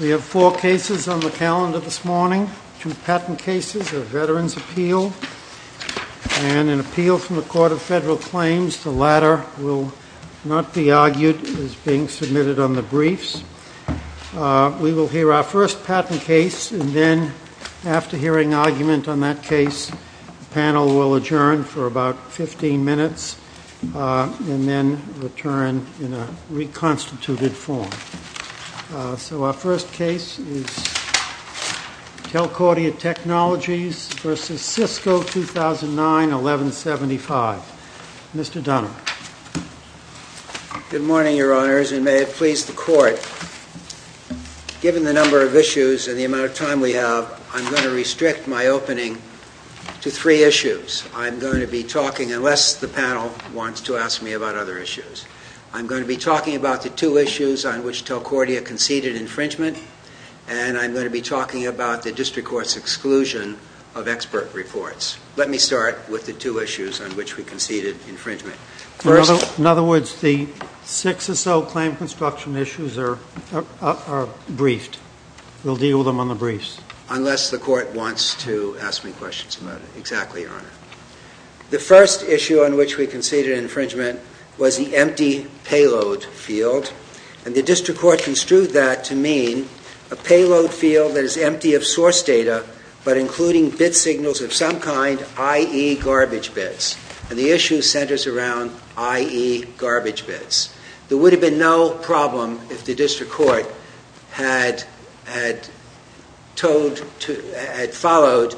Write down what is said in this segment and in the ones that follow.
We have four cases on the calendar this morning, two patent cases, a Veterans Appeal and an appeal from the Court of Federal Claims. The latter will not be argued as being submitted on the briefs. We will hear our first patent case and then after hearing argument on that in a reconstituted form. So our first case is Telcordia Technologies v. Sisco, 2009-1175. Mr. Dunham. Good morning, Your Honors, and may it please the Court, given the number of issues and the amount of time we have, I'm going to restrict my opening to three issues. I'm going to be talking, unless the panel wants to ask me about other issues, I'm going to be talking about the two issues on which Telcordia conceded infringement and I'm going to be talking about the District Court's exclusion of expert reports. Let me start with the two issues on which we conceded infringement. In other words, the six or so claim construction issues are briefed. We'll deal with them on the briefs. Unless the Court wants to ask me questions about it. Exactly, Your Honor. The first issue on which we conceded infringement was the empty payload field. And the District Court construed that to mean a payload field that is empty of source data but including bit signals of some kind, i.e., garbage bits. And the issue centers around i.e., garbage bits. There would have been no problem if had followed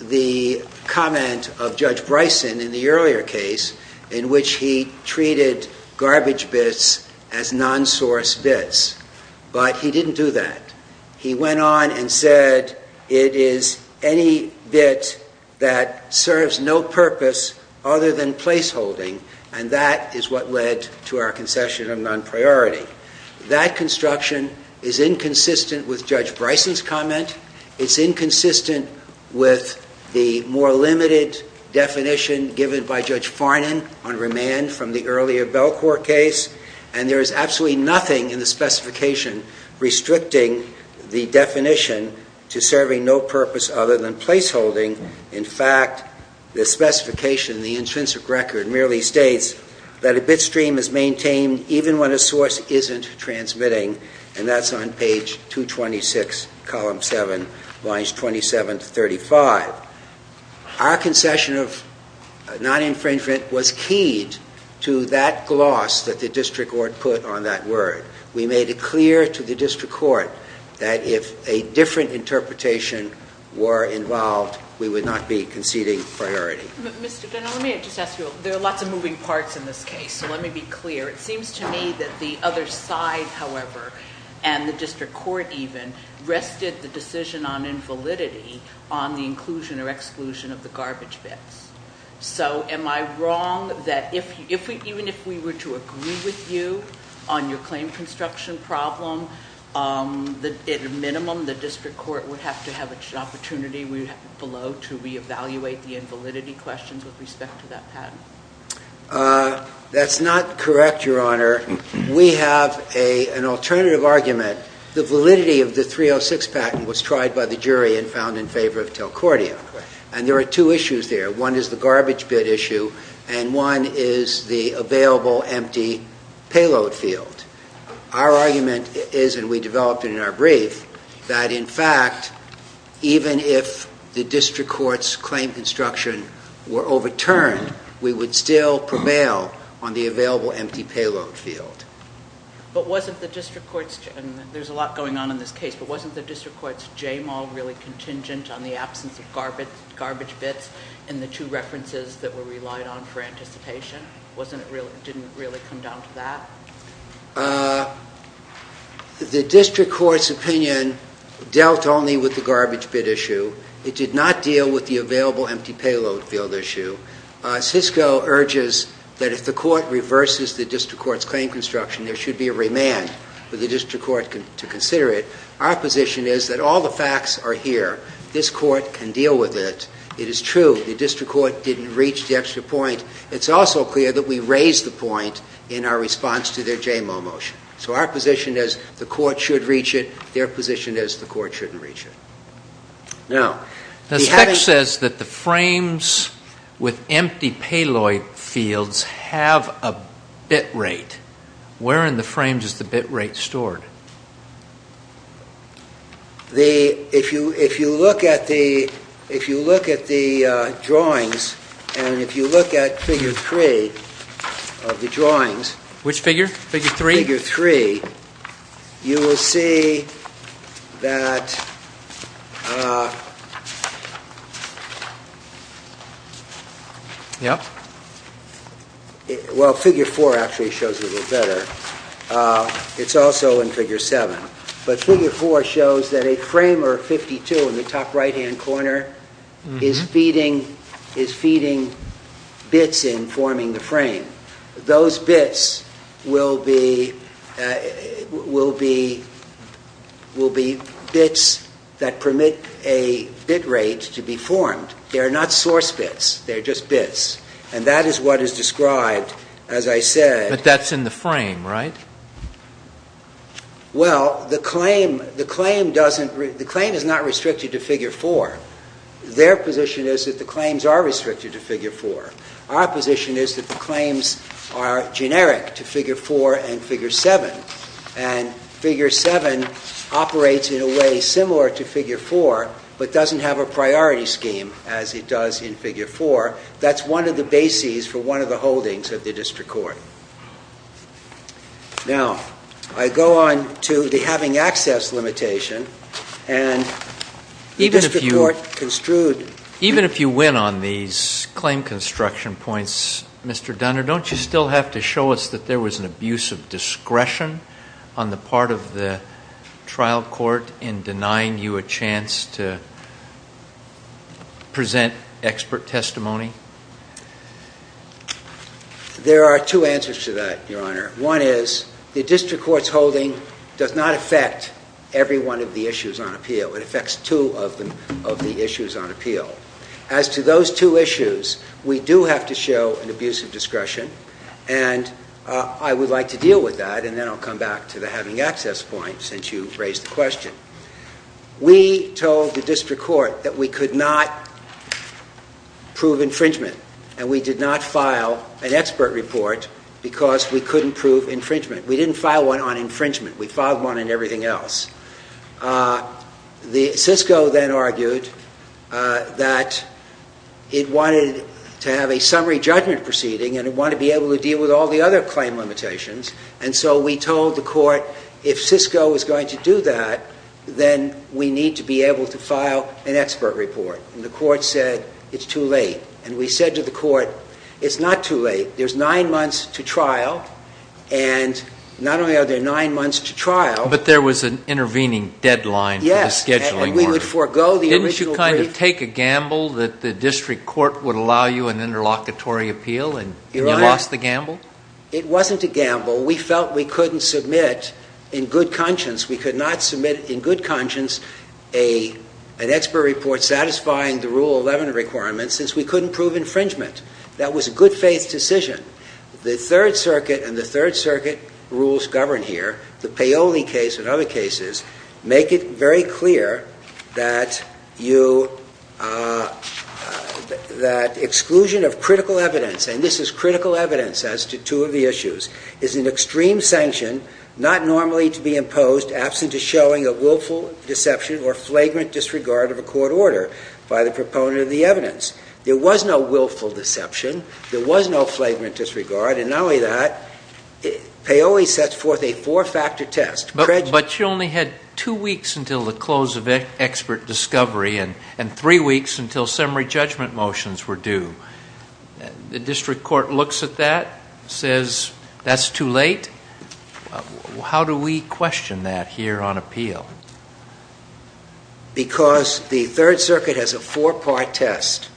the comment of Judge Bryson in the earlier case in which he treated garbage bits as non-source bits. But he didn't do that. He went on and said, it is any bit that serves no purpose other than placeholding and that is what led to our concession of Judge Bryson's comment. It's inconsistent with the more limited definition given by Judge Farnan on remand from the earlier Belcourt case. And there is absolutely nothing in the specification restricting the definition to serving no purpose other than placeholding. In fact, the specification, the intrinsic record merely states that a bit stream is 6, column 7, lines 27 to 35. Our concession of non-infringement was keyed to that gloss that the District Court put on that word. We made it clear to the District Court that if a different interpretation were involved, we would not be conceding priority. Mr. Dunnell, let me just ask you, there are lots of moving parts in this case, so let me be clear. It seems to me that the other side, however, and the District Court even, rested the decision on invalidity on the inclusion or exclusion of the garbage bits. So am I wrong that even if we were to agree with you on your claim construction problem, at a minimum the District Court would have to have an opportunity below to re-evaluate the invalidity questions with respect to that patent? That's not correct, Your Honor. We have an alternative argument. The validity of the 306 patent was tried by the jury and found in favor of Telcordia. And there are two issues there. One is the garbage bit issue, and one is the available empty payload field. Our argument is, and we developed it in our brief, that in fact, even if the District Court's claim construction were overturned, we would still prevail on the available empty payload field. But wasn't the District Court's, and there's a lot going on in this case, but wasn't the District Court's J-Mal really contingent on the absence of garbage bits in the two references that were relied on for anticipation? Didn't it really come down to that? The District Court's opinion dealt only with the garbage bit issue. It did not deal with the available empty payload field issue. Cisco urges that if the Court reverses the District Court's claim construction, there should be a remand for the District Court to consider it. Our position is that all the facts are here. This Court can deal with it. It is true the District Court didn't reach the extra point. It's also clear that we raised the point in our response to their J-Mal motion. So our position is the Court should reach it. Their position is the Court shouldn't reach it. Now, the text says that the frames with empty payload fields have a bit rate. Where in the frames is the bit rate stored? The, if you look at the drawings and if you look at figure three of the drawings. Which figure? Figure three? Figure three, you will see that, well, figure four actually shows it a little better. It's also in figure seven. But figure four shows that a framer 52 in the top right hand corner is feeding, is feeding bits in forming the frame. Those bits will be, will be, will be bits that permit a bit rate to be formed. They are not source bits. They are just bits. And that is what is described, as I said. But that's in the frame, right? Well, the claim, the claim doesn't, the claim is not restricted to figure four. Their position is that the claims are restricted to figure four. Our position is that the claims are generic to figure four and figure seven. And figure seven operates in a way similar to figure four, but doesn't have a priority scheme as it does in figure four. That's one of the bases for one of the holdings of the District Court. Now, I go on to the having access limitation. And the District Court construed. Even if you win on these claim construction points, Mr. Dunner, don't you still have to show us that there was an abuse of discretion on the part of the trial court in denying you a chance to present expert testimony? There are two answers to that, Your Honor. One is the District Court's holding does not affect every one of the issues on appeal. It affects two of the issues on appeal. As to those two issues, we do have to show an abuse of discretion. And I would like to deal with that. And then I'll come back to the having access point, since you raised the question. We told the District Court that we could not prove in front of the District Court an infringement. And we did not file an expert report because we couldn't prove infringement. We didn't file one on infringement. We filed one on everything else. The CISCO then argued that it wanted to have a summary judgment proceeding and it wanted to be able to deal with all the other claim limitations. And so we told the Court, if CISCO is going to do that, then we need to be able to file an expert report. And the Court said, it's too late. And we said to the Court, it's not too late. There's nine months to trial. And not only are there nine months to trial. But there was an intervening deadline for the scheduling. Yes. And we would forego the original brief. Didn't you kind of take a gamble that the District Court would allow you an interlocutory appeal and you lost the gamble? Your Honor, it wasn't a gamble. We felt we couldn't submit in good conscience, we could not submit in good conscience an expert report satisfying the Rule 11 requirement since we couldn't prove infringement. That was a good faith decision. The Third Circuit and the Third Circuit rules govern here. The Paoli case and other cases make it very clear that exclusion of critical evidence, and this is critical evidence as to two of the issues, is an extreme sanction not normally to be imposed absent of showing a willful deception or flagrant disregard of a court order by the proponent of the evidence. There was no willful deception. There was no flagrant disregard. And not only that, Paoli sets forth a four-factor test. But you only had two weeks until the close of expert discovery and three weeks until summary judgment motions were due. The District Court looks at that, says that's too late. How do we question that here on appeal? Because the Third Circuit has a four-part test.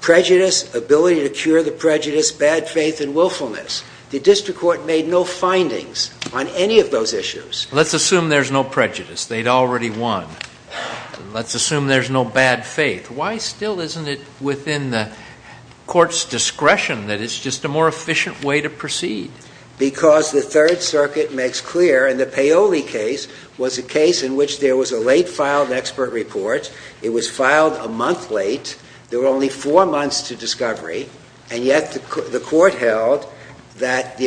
Prejudice, ability to cure the prejudice, bad faith and willfulness. The District Court made no findings on any of those issues. Let's assume there's no prejudice. They'd already won. Let's assume there's no bad faith. Why still isn't it within the Court's discretion that it's just a more efficient way to proceed? Because the Third Circuit makes clear, and the Paoli case was a case in which there was a late filed expert report. It was filed a month late. There were only four months to discovery. And yet the Court held that the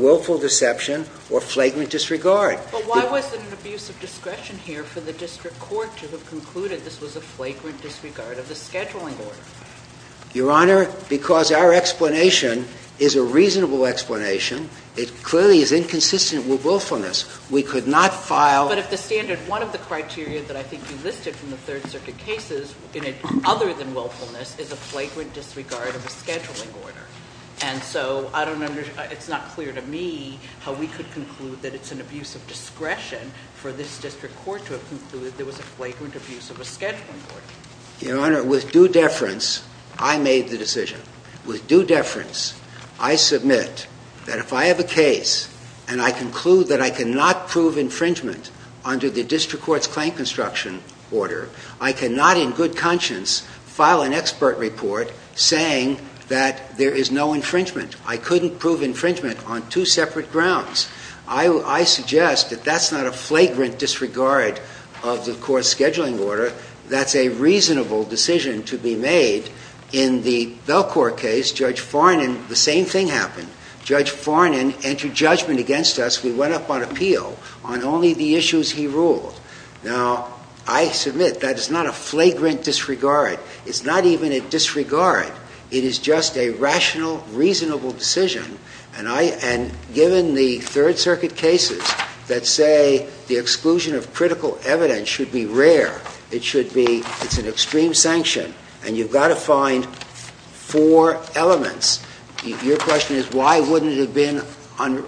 willful deception or flagrant disregard. But why was it an abuse of discretion here for the District Court to have concluded this was a flagrant disregard of the scheduling order? Your Honor, because our explanation is a reasonable explanation. It clearly is inconsistent with willfulness. We could not file. But if the standard, one of the criteria that I think you listed from the Third Circuit cases, other than willfulness, is a flagrant disregard of a scheduling order. And so I don't understand, it's not clear to me how we could conclude that it's an abuse of discretion for this District Court to have concluded there was a flagrant abuse of a scheduling order. Your Honor, with due deference, I made the decision. With due deference, I submit that if I have a case and I conclude that I cannot prove infringement under the District Court's claim construction order, I cannot in good conscience file an expert report saying that there is no infringement. I couldn't prove infringement on two separate grounds. I suggest that that's not a flagrant disregard of the Court's scheduling order. That's a reasonable decision to be made. In the Belcourt case, Judge Farnan, the same thing happened. Judge Farnan entered judgment against us. We went up on appeal on only the issues he ruled. Now, I submit that is not a flagrant disregard. It's not even a disregard. It is just a rational, reasonable decision. And I, and given the Third Circuit cases that say the exclusion of critical evidence should be rare, it should be, it's an extreme sanction, and you've got to find four elements. Your question is why wouldn't it have been,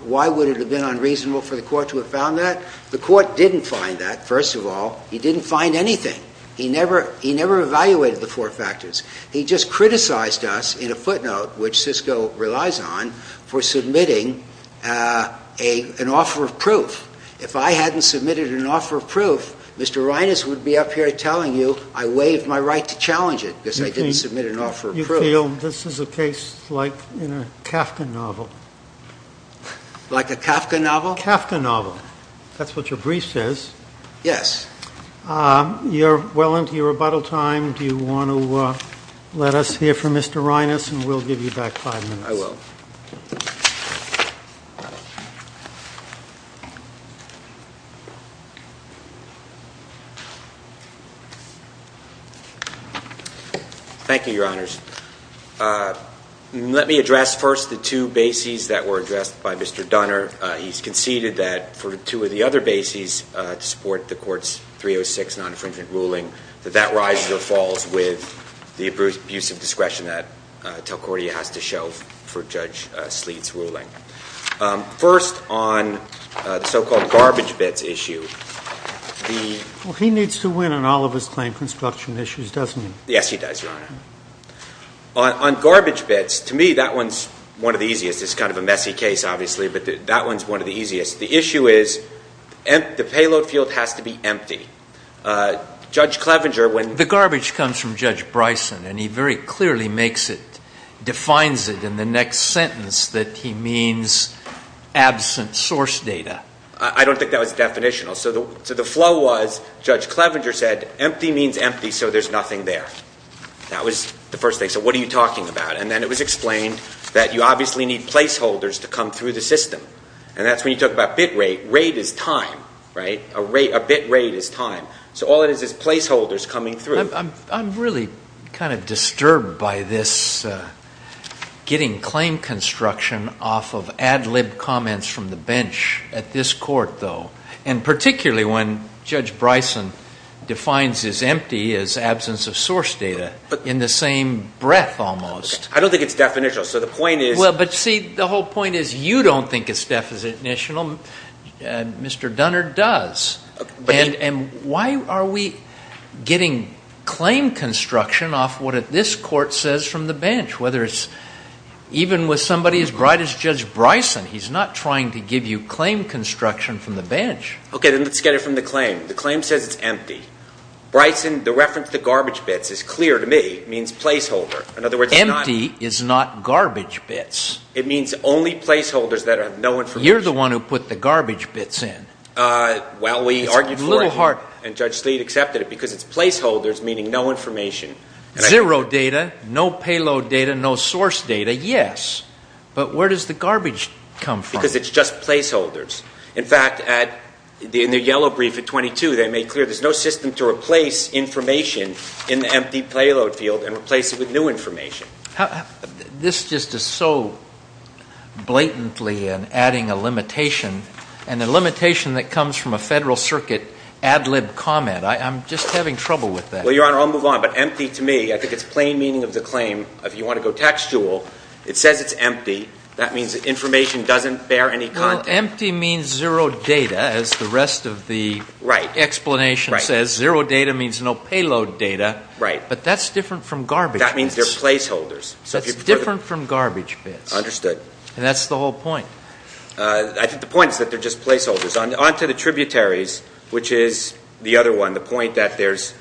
why would it have been unreasonable for the Court to have found that? The Court didn't find that, first of all. He didn't find anything. He never, he never evaluated the four factors. He just criticized us in a footnote, which Cisco relies on, for submitting a, an offer of proof. If I hadn't submitted an offer of proof, Mr. Reines would be up here telling you I waived my right to challenge it because I didn't submit an offer of proof. You feel this is a case like in a Kafka novel? Like a Kafka novel? Kafka novel. That's what your brief says. Yes. You're well into your rebuttal time. Do you want to let us hear from Mr. Reines? And we'll give you back five minutes. I will. Thank you, Your Honors. Let me address first the two bases that were addressed by Mr. Dunner. He's conceded that for two of the other bases to support the Court's 306 non-infringement ruling, that that rises or falls with the abuse of discretion that Telcordia has to show for Judge Sleet's ruling. First, on the so-called garbage bits issue, the Well, he needs to win on all of his claim construction issues, doesn't he? Yes, he does, Your Honor. On garbage bits, to me, that one's one of the easiest. It's kind of a messy case, obviously, but that one's one of the easiest. The issue is the payload field has to be empty. Judge Clevenger, when The garbage comes from Judge Bryson, and he defines it in the next sentence that he means absent source data. I don't think that was definitional. So the flow was, Judge Clevenger said, empty means empty, so there's nothing there. That was the first thing. So what are you talking about? And then it was explained that you obviously need placeholders to come through the system. And that's when you talk about bit rate. Rate is time, right? A bit rate is time. So all it is is placeholders coming through. I'm really kind of disturbed by this getting claim construction off of ad lib comments from the bench at this court, though. And particularly when Judge Bryson defines his empty as absence of source data in the same breath, almost. I don't think it's definitional. So the point is Well, but see, the whole point is you don't think it's definitional. Mr. Dunner does. And why are we getting claim construction off what this court says from the bench? Whether it's even with somebody as bright as Judge Bryson, he's not trying to give you claim construction from the bench. Okay, then let's get it from the claim. The claim says it's empty. Bryson, the reference to garbage bits is clear to me. It means placeholder. In other words, it's not Empty is not garbage bits. It means only placeholders that have no information. You're the one who put the garbage bits in. Well, we argued for it. And Judge Sleet accepted it because it's placeholders, meaning no information. Zero data, no payload data, no source data, yes. But where does the garbage come from? Because it's just placeholders. In fact, in the yellow brief at 22, they made clear there's no system to replace information in the empty payload field and replace it with new information. This just is so blatantly adding a limitation and a limitation that comes from a Federal Circuit ad lib comment. I'm just having trouble with that. Well, Your Honor, I'll move on. But empty to me, I think it's plain meaning of the claim. If you want to go textual, it says it's empty. That means information doesn't bear any content. Well, empty means zero data, as the rest of the explanation says. Zero data means no payload data. Right. But that's different from garbage. That means they're placeholders. That's different from garbage bits. Understood. And that's the whole point. I think the point is that they're just placeholders. On to the tributaries, which is the other one, the point that there's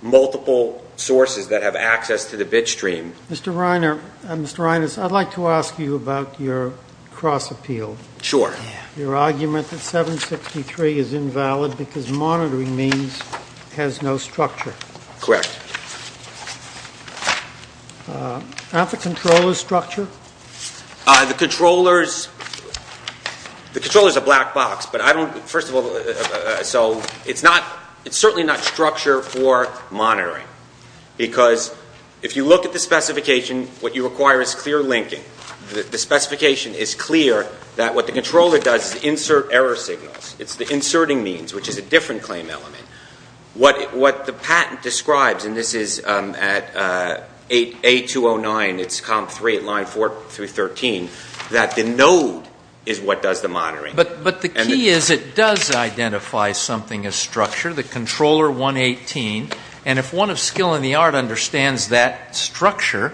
multiple sources that have access to the bit stream. Mr. Reiners, I'd like to ask you about your cross appeal. Sure. Your argument that 763 is invalid because monitoring means it has no structure. Correct. Not the controller's structure? The controller's a black box. But I don't, first of all, so it's not, it's certainly not structure for monitoring. Because if you look at the specification, what you require is clear linking. The specification is clear that what the controller does is insert error signals. It's the inserting means, which is a different claim element. What the patent describes, and this is at A209, it's comp three at line four through 13, that the node is what does the monitoring. But the key is it does identify something as structure, the controller 118. And if one of skill in the art understands that structure,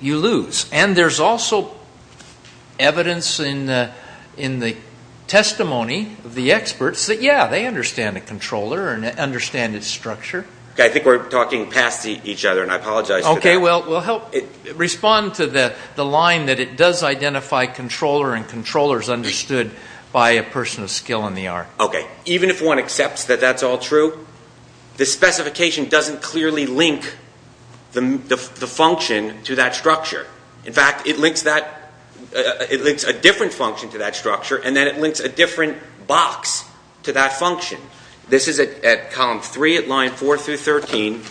you lose. And there's also evidence in the testimony of the experts that, yeah, they understand a controller and understand its structure. Okay. I think we're talking past each other, and I apologize for that. Okay. We'll help respond to the line that it does identify controller and controller is understood by a person of skill in the art. Okay. Even if one accepts that that's all true, the specification doesn't clearly link the function to that structure. In fact, it links that, it links a different function to that structure, and then it links a different box to that function. This is at comp three at line four through 13.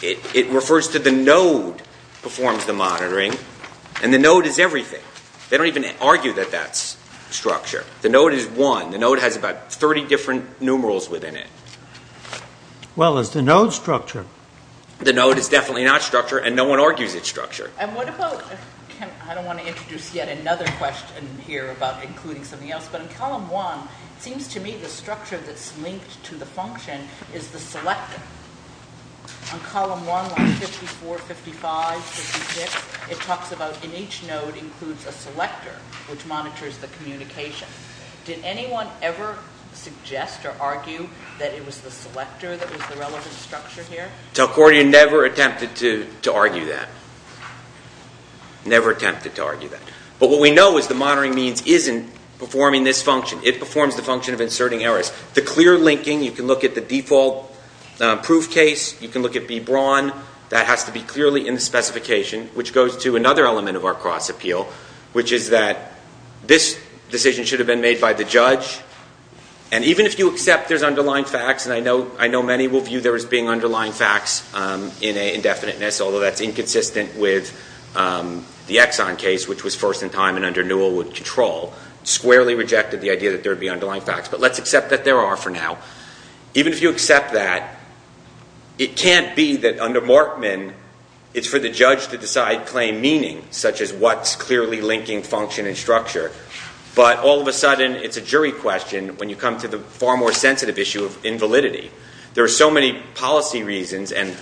It refers to the node performs the monitoring, and the node is everything. They don't even argue that that's structure. The node is one. The node has about 30 different numerals within it. Well, is the node structure? The node is definitely not structure, and no I don't want to introduce yet another question here about including something else, but in column one, it seems to me the structure that's linked to the function is the selector. On column one, line 54, 55, 56, it talks about in each node includes a selector, which monitors the communication. Did anyone ever suggest or argue that it was the selector that was the relevant structure here? Talcordia never attempted to argue that. Never attempted to argue that. But what we know is the monitoring means isn't performing this function. It performs the function of inserting errors. The clear linking, you can look at the default proof case, you can look at B Braun, that has to be clearly in the specification, which goes to another element of our cross appeal, which is that this decision should have been made by the judge, and even if you accept there's underlying facts, and I know many will view there as being underlying facts in indefiniteness, although that's inconsistent with the Exxon case, which was first in time and under Newell would control, squarely rejected the idea that there would be underlying facts. But let's accept that there are for now. Even if you accept that, it can't be that under Markman, it's for the judge to decide claim meaning, such as what's clearly linking function and structure. But all of a sudden, it's a jury question when you come to the far more sensitive issue of invalidity. There are so many policy reasons and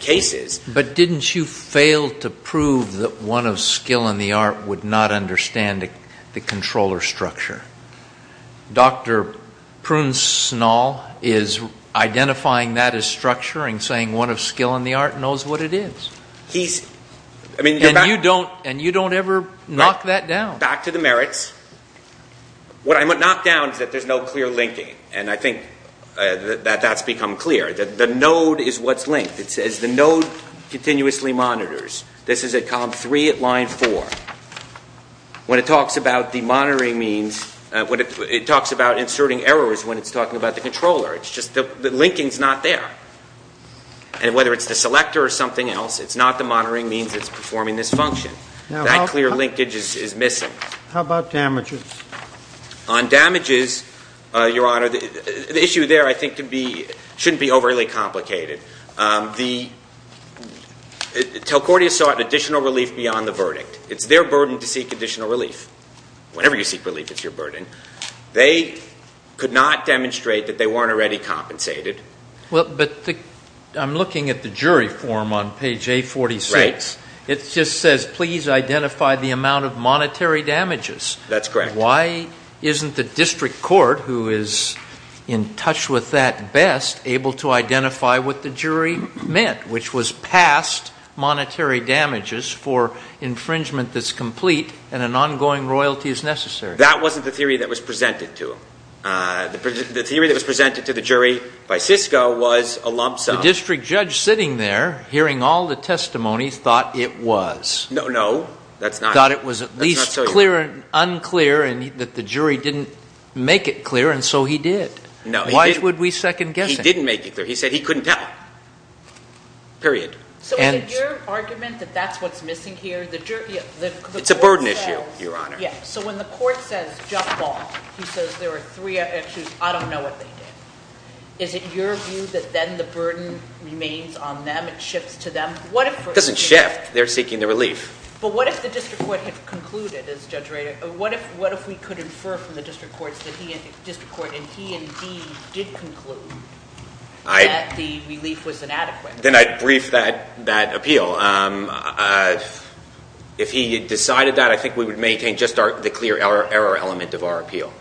cases. But didn't you fail to prove that one of skill in the art would not understand the controller structure? Dr. Prune Snall is identifying that as structure and saying one of skill in the art knows what it is. And you don't ever knock that down. Back to the merits. What I knocked down is that there's no clear linking. And I think that that's become clear. The node is what's linked. It says the node continuously monitors. This is at column 3 at line 4. When it talks about the monitoring means, it talks about inserting errors when it's talking about the controller. It's just the linking's not there. And whether it's the selector or something else, it's not the monitoring means it's performing this function. That clear linkage is missing. How about damages? On damages, Your Honor, the issue there, I think, shouldn't be overly complicated. Telcordia sought additional relief beyond the verdict. It's their burden to seek additional relief. Whenever you seek relief, it's your burden. They could not demonstrate that they weren't already compensated. Well, but I'm looking at the jury form on page A46. Right. It just says, please identify the amount of monetary damages. That's correct. Why isn't the district court, who is in touch with that best, able to identify what the jury meant, which was past monetary damages for infringement that's complete and an ongoing royalty is necessary? That wasn't the theory that was presented to him. The theory that was presented to the jury by Cisco was a lump sum. The district judge sitting there, hearing all the testimonies, thought it was. No, no, that's not. Thought it was at least clear and unclear and that the jury didn't make it clear, and so he did. No, he didn't. Why would we second guess him? He didn't make it clear. He said he couldn't tell. Period. So is it your argument that that's what's missing here? It's a burden issue, Your Honor. Yeah, so when the court says jump ball, he says there are three issues. I don't know what they did. Is it your view that then the burden remains on them? It shifts to them? It doesn't shift. They're seeking the relief. But what if the district court had concluded, as Judge Rader, what if we could infer from the district court and he indeed did conclude that the relief was inadequate? Then I'd brief that appeal. If he had decided that, I think we would maintain just the clear error element of our appeal.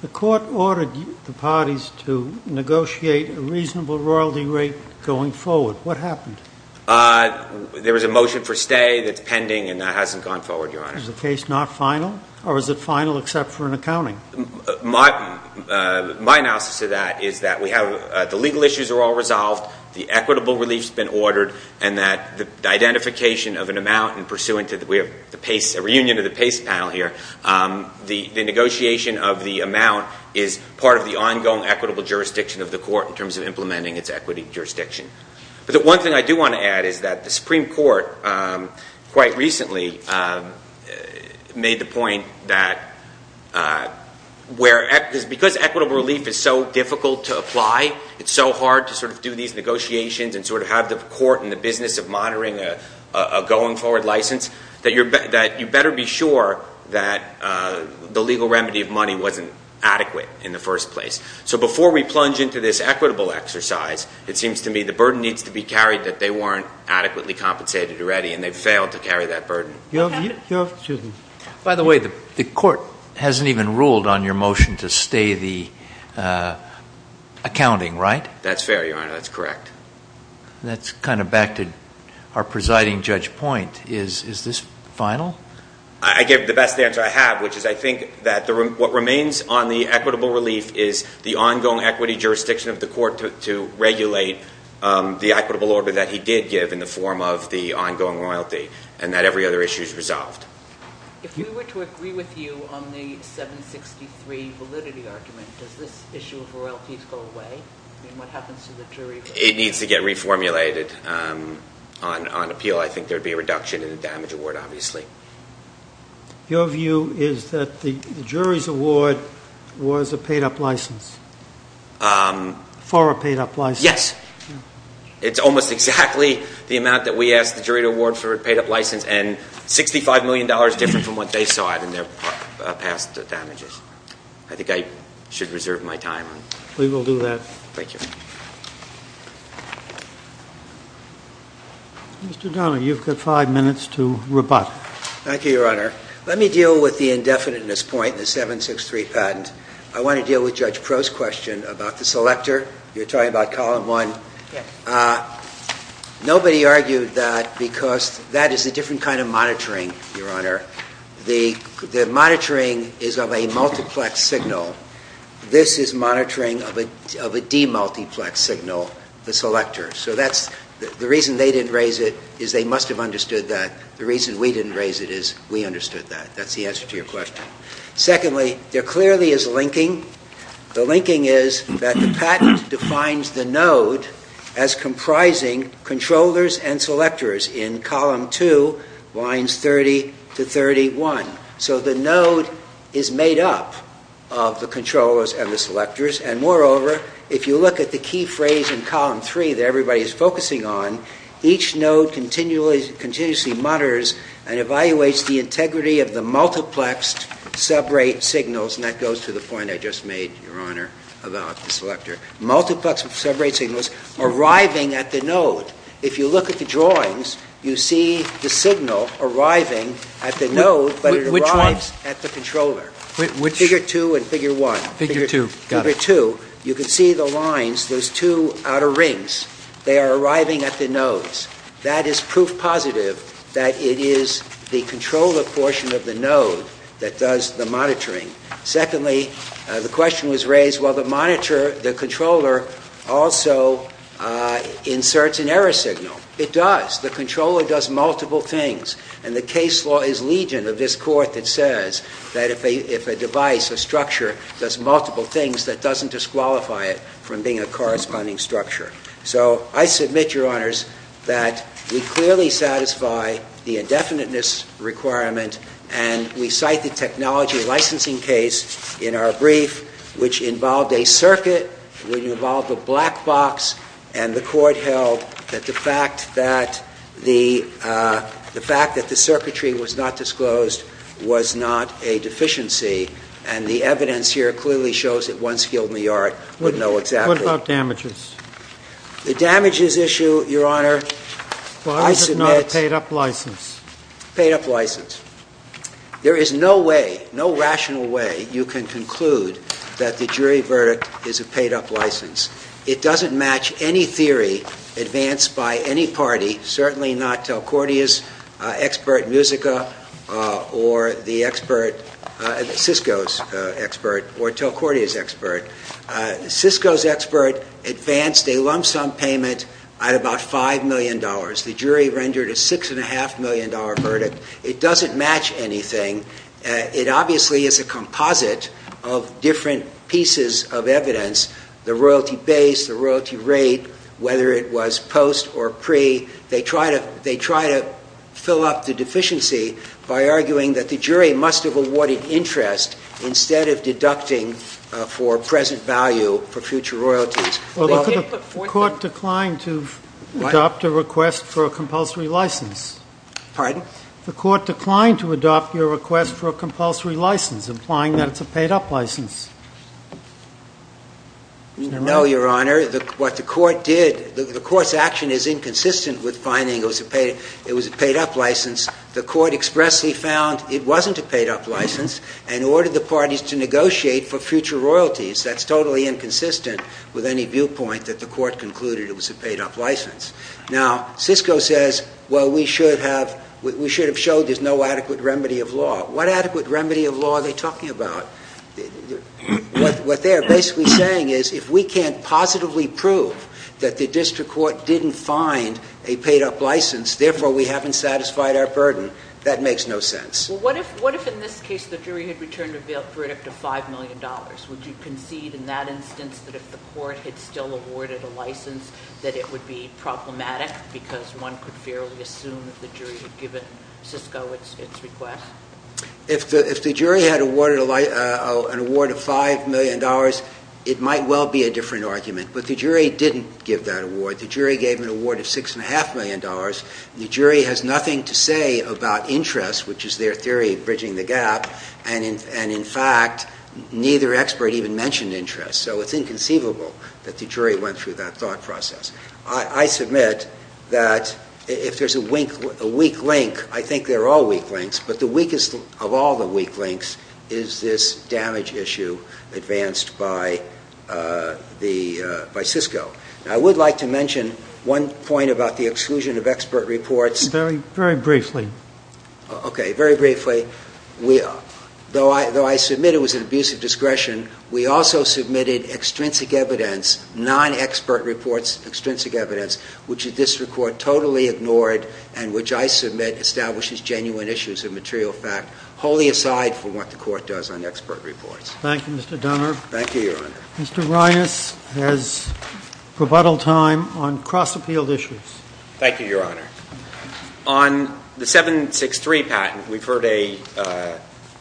The court ordered the parties to negotiate a reasonable royalty rate going forward. What happened? There was a motion for stay that's pending, and that hasn't gone forward, Your Honor. Is the case not final, or is it final except for an accounting? My analysis of that is that we have the legal issues are all resolved, the equitable relief has been ordered, and that the identification of an amount in pursuant to the reunion of the PACE panel here, the negotiation of the amount is part of the ongoing equitable jurisdiction of the court in terms of implementing its equity jurisdiction. But the one thing I do want to add is that the Supreme Court quite recently made the where, because equitable relief is so difficult to apply, it's so hard to sort of do these negotiations and sort of have the court in the business of monitoring a going forward license, that you better be sure that the legal remedy of money wasn't adequate in the first place. So before we plunge into this equitable exercise, it seems to me the burden needs to be carried that they weren't adequately compensated already, and they failed to carry that burden. By the way, the court hasn't even ruled on your motion to stay the accounting, right? That's fair, Your Honor. That's correct. That's kind of back to our presiding judge point. Is this final? I gave the best answer I have, which is I think that what remains on the equitable relief is the ongoing equity jurisdiction of the court to regulate the equitable order that he did give in the form of the ongoing royalty, and that every other issue is resolved. If we were to agree with you on the 763 validity argument, does this issue of royalties go away? I mean, what happens to the jury vote? It needs to get reformulated on appeal. I think there would be a reduction in the damage award, obviously. Your view is that the jury's award was a paid-up license, for a paid-up license? Yes. It's almost exactly the amount that we asked the jury to award for a paid-up license, and $65 million different from what they saw in their past damages. I think I should reserve my time. We will do that. Thank you. Mr. Donohue, you've got five minutes to rebut. Thank you, Your Honor. Let me deal with the indefiniteness point in the 763 patent. I want to deal with Judge Proh's question about the selector. You're talking about Column 1. Yes. Nobody argued that because that is a different kind of monitoring, Your Honor. The monitoring is of a multiplex signal. This is monitoring of a demultiplex signal, the selector. So the reason they didn't raise it is they must have understood that. The reason we didn't raise it is we understood that. That's the answer to your question. Secondly, there clearly is linking. The linking is that the patent defines the node as comprising controllers and selectors in Column 2, lines 30 to 31. So the node is made up of the controllers and the selectors, and moreover, if you look at the key phrase in Column 3 that everybody is focusing on, each node continuously mutters and evaluates the integrity of the multiplexed sub-rate signals, and that goes to the point I just made, Your Honor, about the selector, multiplexed sub-rate signals arriving at the node. If you look at the drawings, you see the signal arriving at the node, but it arrives at the controller. Which one? Figure 2 and Figure 1. Figure 2. Figure 2. They are arriving at the nodes. That is proof positive that it is the controller portion of the node that does the monitoring. Secondly, the question was raised, well, the monitor, the controller, also inserts an error signal. It does. The controller does multiple things, and the case law is legion of this Court that says that if a device, a structure, does multiple things, that doesn't disqualify it from being a corresponding structure. So I submit, Your Honors, that we clearly satisfy the indefiniteness requirement, and we cite the technology licensing case in our brief, which involved a circuit, which involved a black box, and the Court held that the fact that the circuitry was not disclosed was not a deficiency, and the evidence here clearly shows that one skilled in the art would know exactly. What about damages? The damages issue, Your Honor, I submit. But I have not a paid-up license. Paid-up license. There is no way, no rational way, you can conclude that the jury verdict is a paid-up license. It doesn't match any theory advanced by any party, certainly not Telcordia's expert, Musica, or the expert, Cisco's expert, or Telcordia's expert. Cisco's expert advanced a lump sum payment at about $5 million. The jury rendered a $6.5 million verdict. It doesn't match anything. It obviously is a composite of different pieces of evidence, the royalty base, the royalty rate, whether it was post or pre. They try to fill up the deficiency by arguing that the jury must have awarded interest instead of deducting for present value for future royalties. The court declined to adopt a request for a compulsory license. Pardon? The court declined to adopt your request for a compulsory license, implying that it's a paid-up license. No, Your Honor. What the court did, the court's action is inconsistent with finding it was a paid-up license. The court expressly found it wasn't a paid-up license, and ordered the parties to negotiate for future royalties. That's totally inconsistent with any viewpoint that the court concluded it was a paid-up license. Now, Cisco says, well, we should have showed there's no adequate remedy of law. What adequate remedy of law are they talking about? What they're basically saying is if we can't positively prove that the district court didn't find a paid-up license, therefore we haven't satisfied our burden, that makes no sense. Well, what if in this case the jury had returned a verdict of $5 million? Would you concede in that instance that if the court had still awarded a license that it would be problematic because one could fairly assume that the jury had given Cisco its request? If the jury had awarded an award of $5 million, it might well be a different argument. But the jury didn't give that award. The jury gave an award of $6.5 million. The jury has nothing to say about interest, which is their theory of bridging the gap, and in fact neither expert even mentioned interest. So it's inconceivable that the jury went through that thought process. I submit that if there's a weak link, I think they're all weak links, but the weakest of all the weak links is this damage issue advanced by Cisco. I would like to mention one point about the exclusion of expert reports. Very briefly. Okay, very briefly. Though I submit it was an abuse of discretion, we also submitted extrinsic evidence, non-expert reports, extrinsic evidence, which the district court totally ignored and which I submit establishes genuine issues of material fact, wholly aside from what the court does on expert reports. Thank you, Mr. Dunner. Thank you, Your Honor. Mr. Reines has rebuttal time on cross-appealed issues. Thank you, Your Honor. On the 763 patent, we've heard a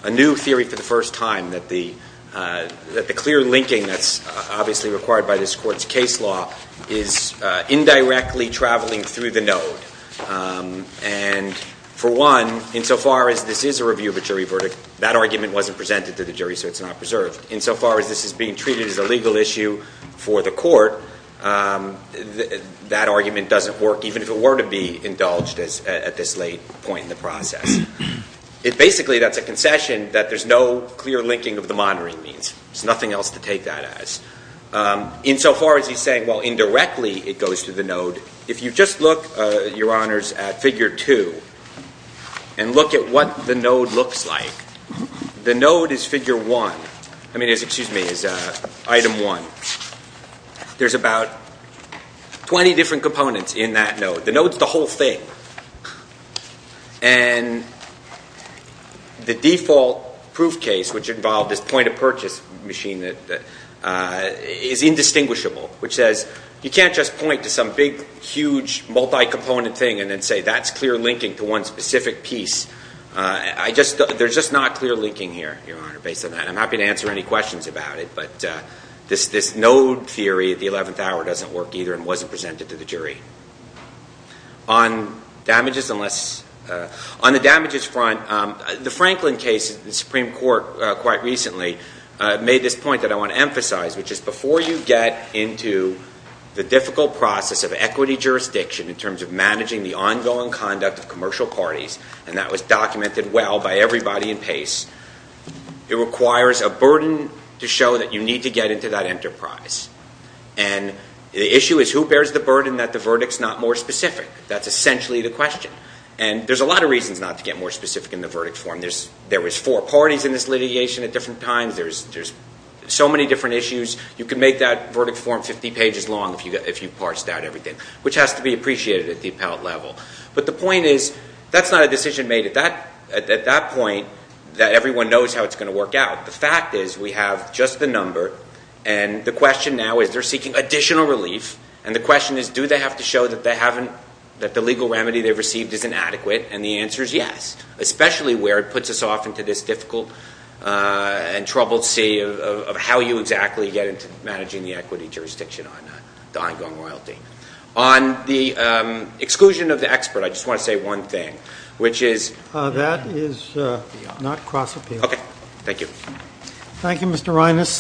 new theory for the first time, that the clear linking that's obviously required by this court's case law is indirectly traveling through the node. And for one, insofar as this is a review of a jury verdict, that argument wasn't presented to the jury, so it's not preserved. Insofar as this is being treated as a legal issue for the court, that argument doesn't work even if it were to be indulged at this late point in the process. Basically, that's a concession that there's no clear linking of the monitoring means. There's nothing else to take that as. Insofar as he's saying, well, indirectly it goes through the node, if you just look, Your Honors, at Figure 2 and look at what the node looks like, the node is Item 1. There's about 20 different components in that node. The node's the whole thing. And the default proof case, which involved this point-of-purchase machine, is indistinguishable, which says, you can't just point to some big, huge, multi-component thing and then say that's clear linking to one specific piece. There's just not clear linking here, Your Honor, based on that. I'm happy to answer any questions about it, but this node theory of the 11th hour doesn't work either and wasn't presented to the jury. On the damages front, the Franklin case, the Supreme Court quite recently, made this point that I want to emphasize, which is before you get into the difficult process of equity jurisdiction in terms of managing the ongoing conduct of commercial parties, and that was documented well by everybody in PACE, it requires a burden to show that you need to get into that enterprise. And the issue is who bears the burden that the verdict's not more specific? That's essentially the question. And there's a lot of reasons not to get more specific in the verdict form. There was four parties in this litigation at different times. There's so many different issues. You could make that verdict form 50 pages long if you parsed out everything, which has to be appreciated at the appellate level. But the point is that's not a decision made at that point that everyone knows how it's going to work out. The fact is we have just the number, and the question now is they're seeking additional relief, and the question is do they have to show that the legal remedy they've received is inadequate? And the answer is yes, especially where it puts us off into this difficult and troubled sea of how you exactly get into managing the equity jurisdiction on the ongoing royalty. On the exclusion of the expert, I just want to say one thing, which is... That is not cross-appeal. Okay. Thank you. Thank you, Mr. Reines.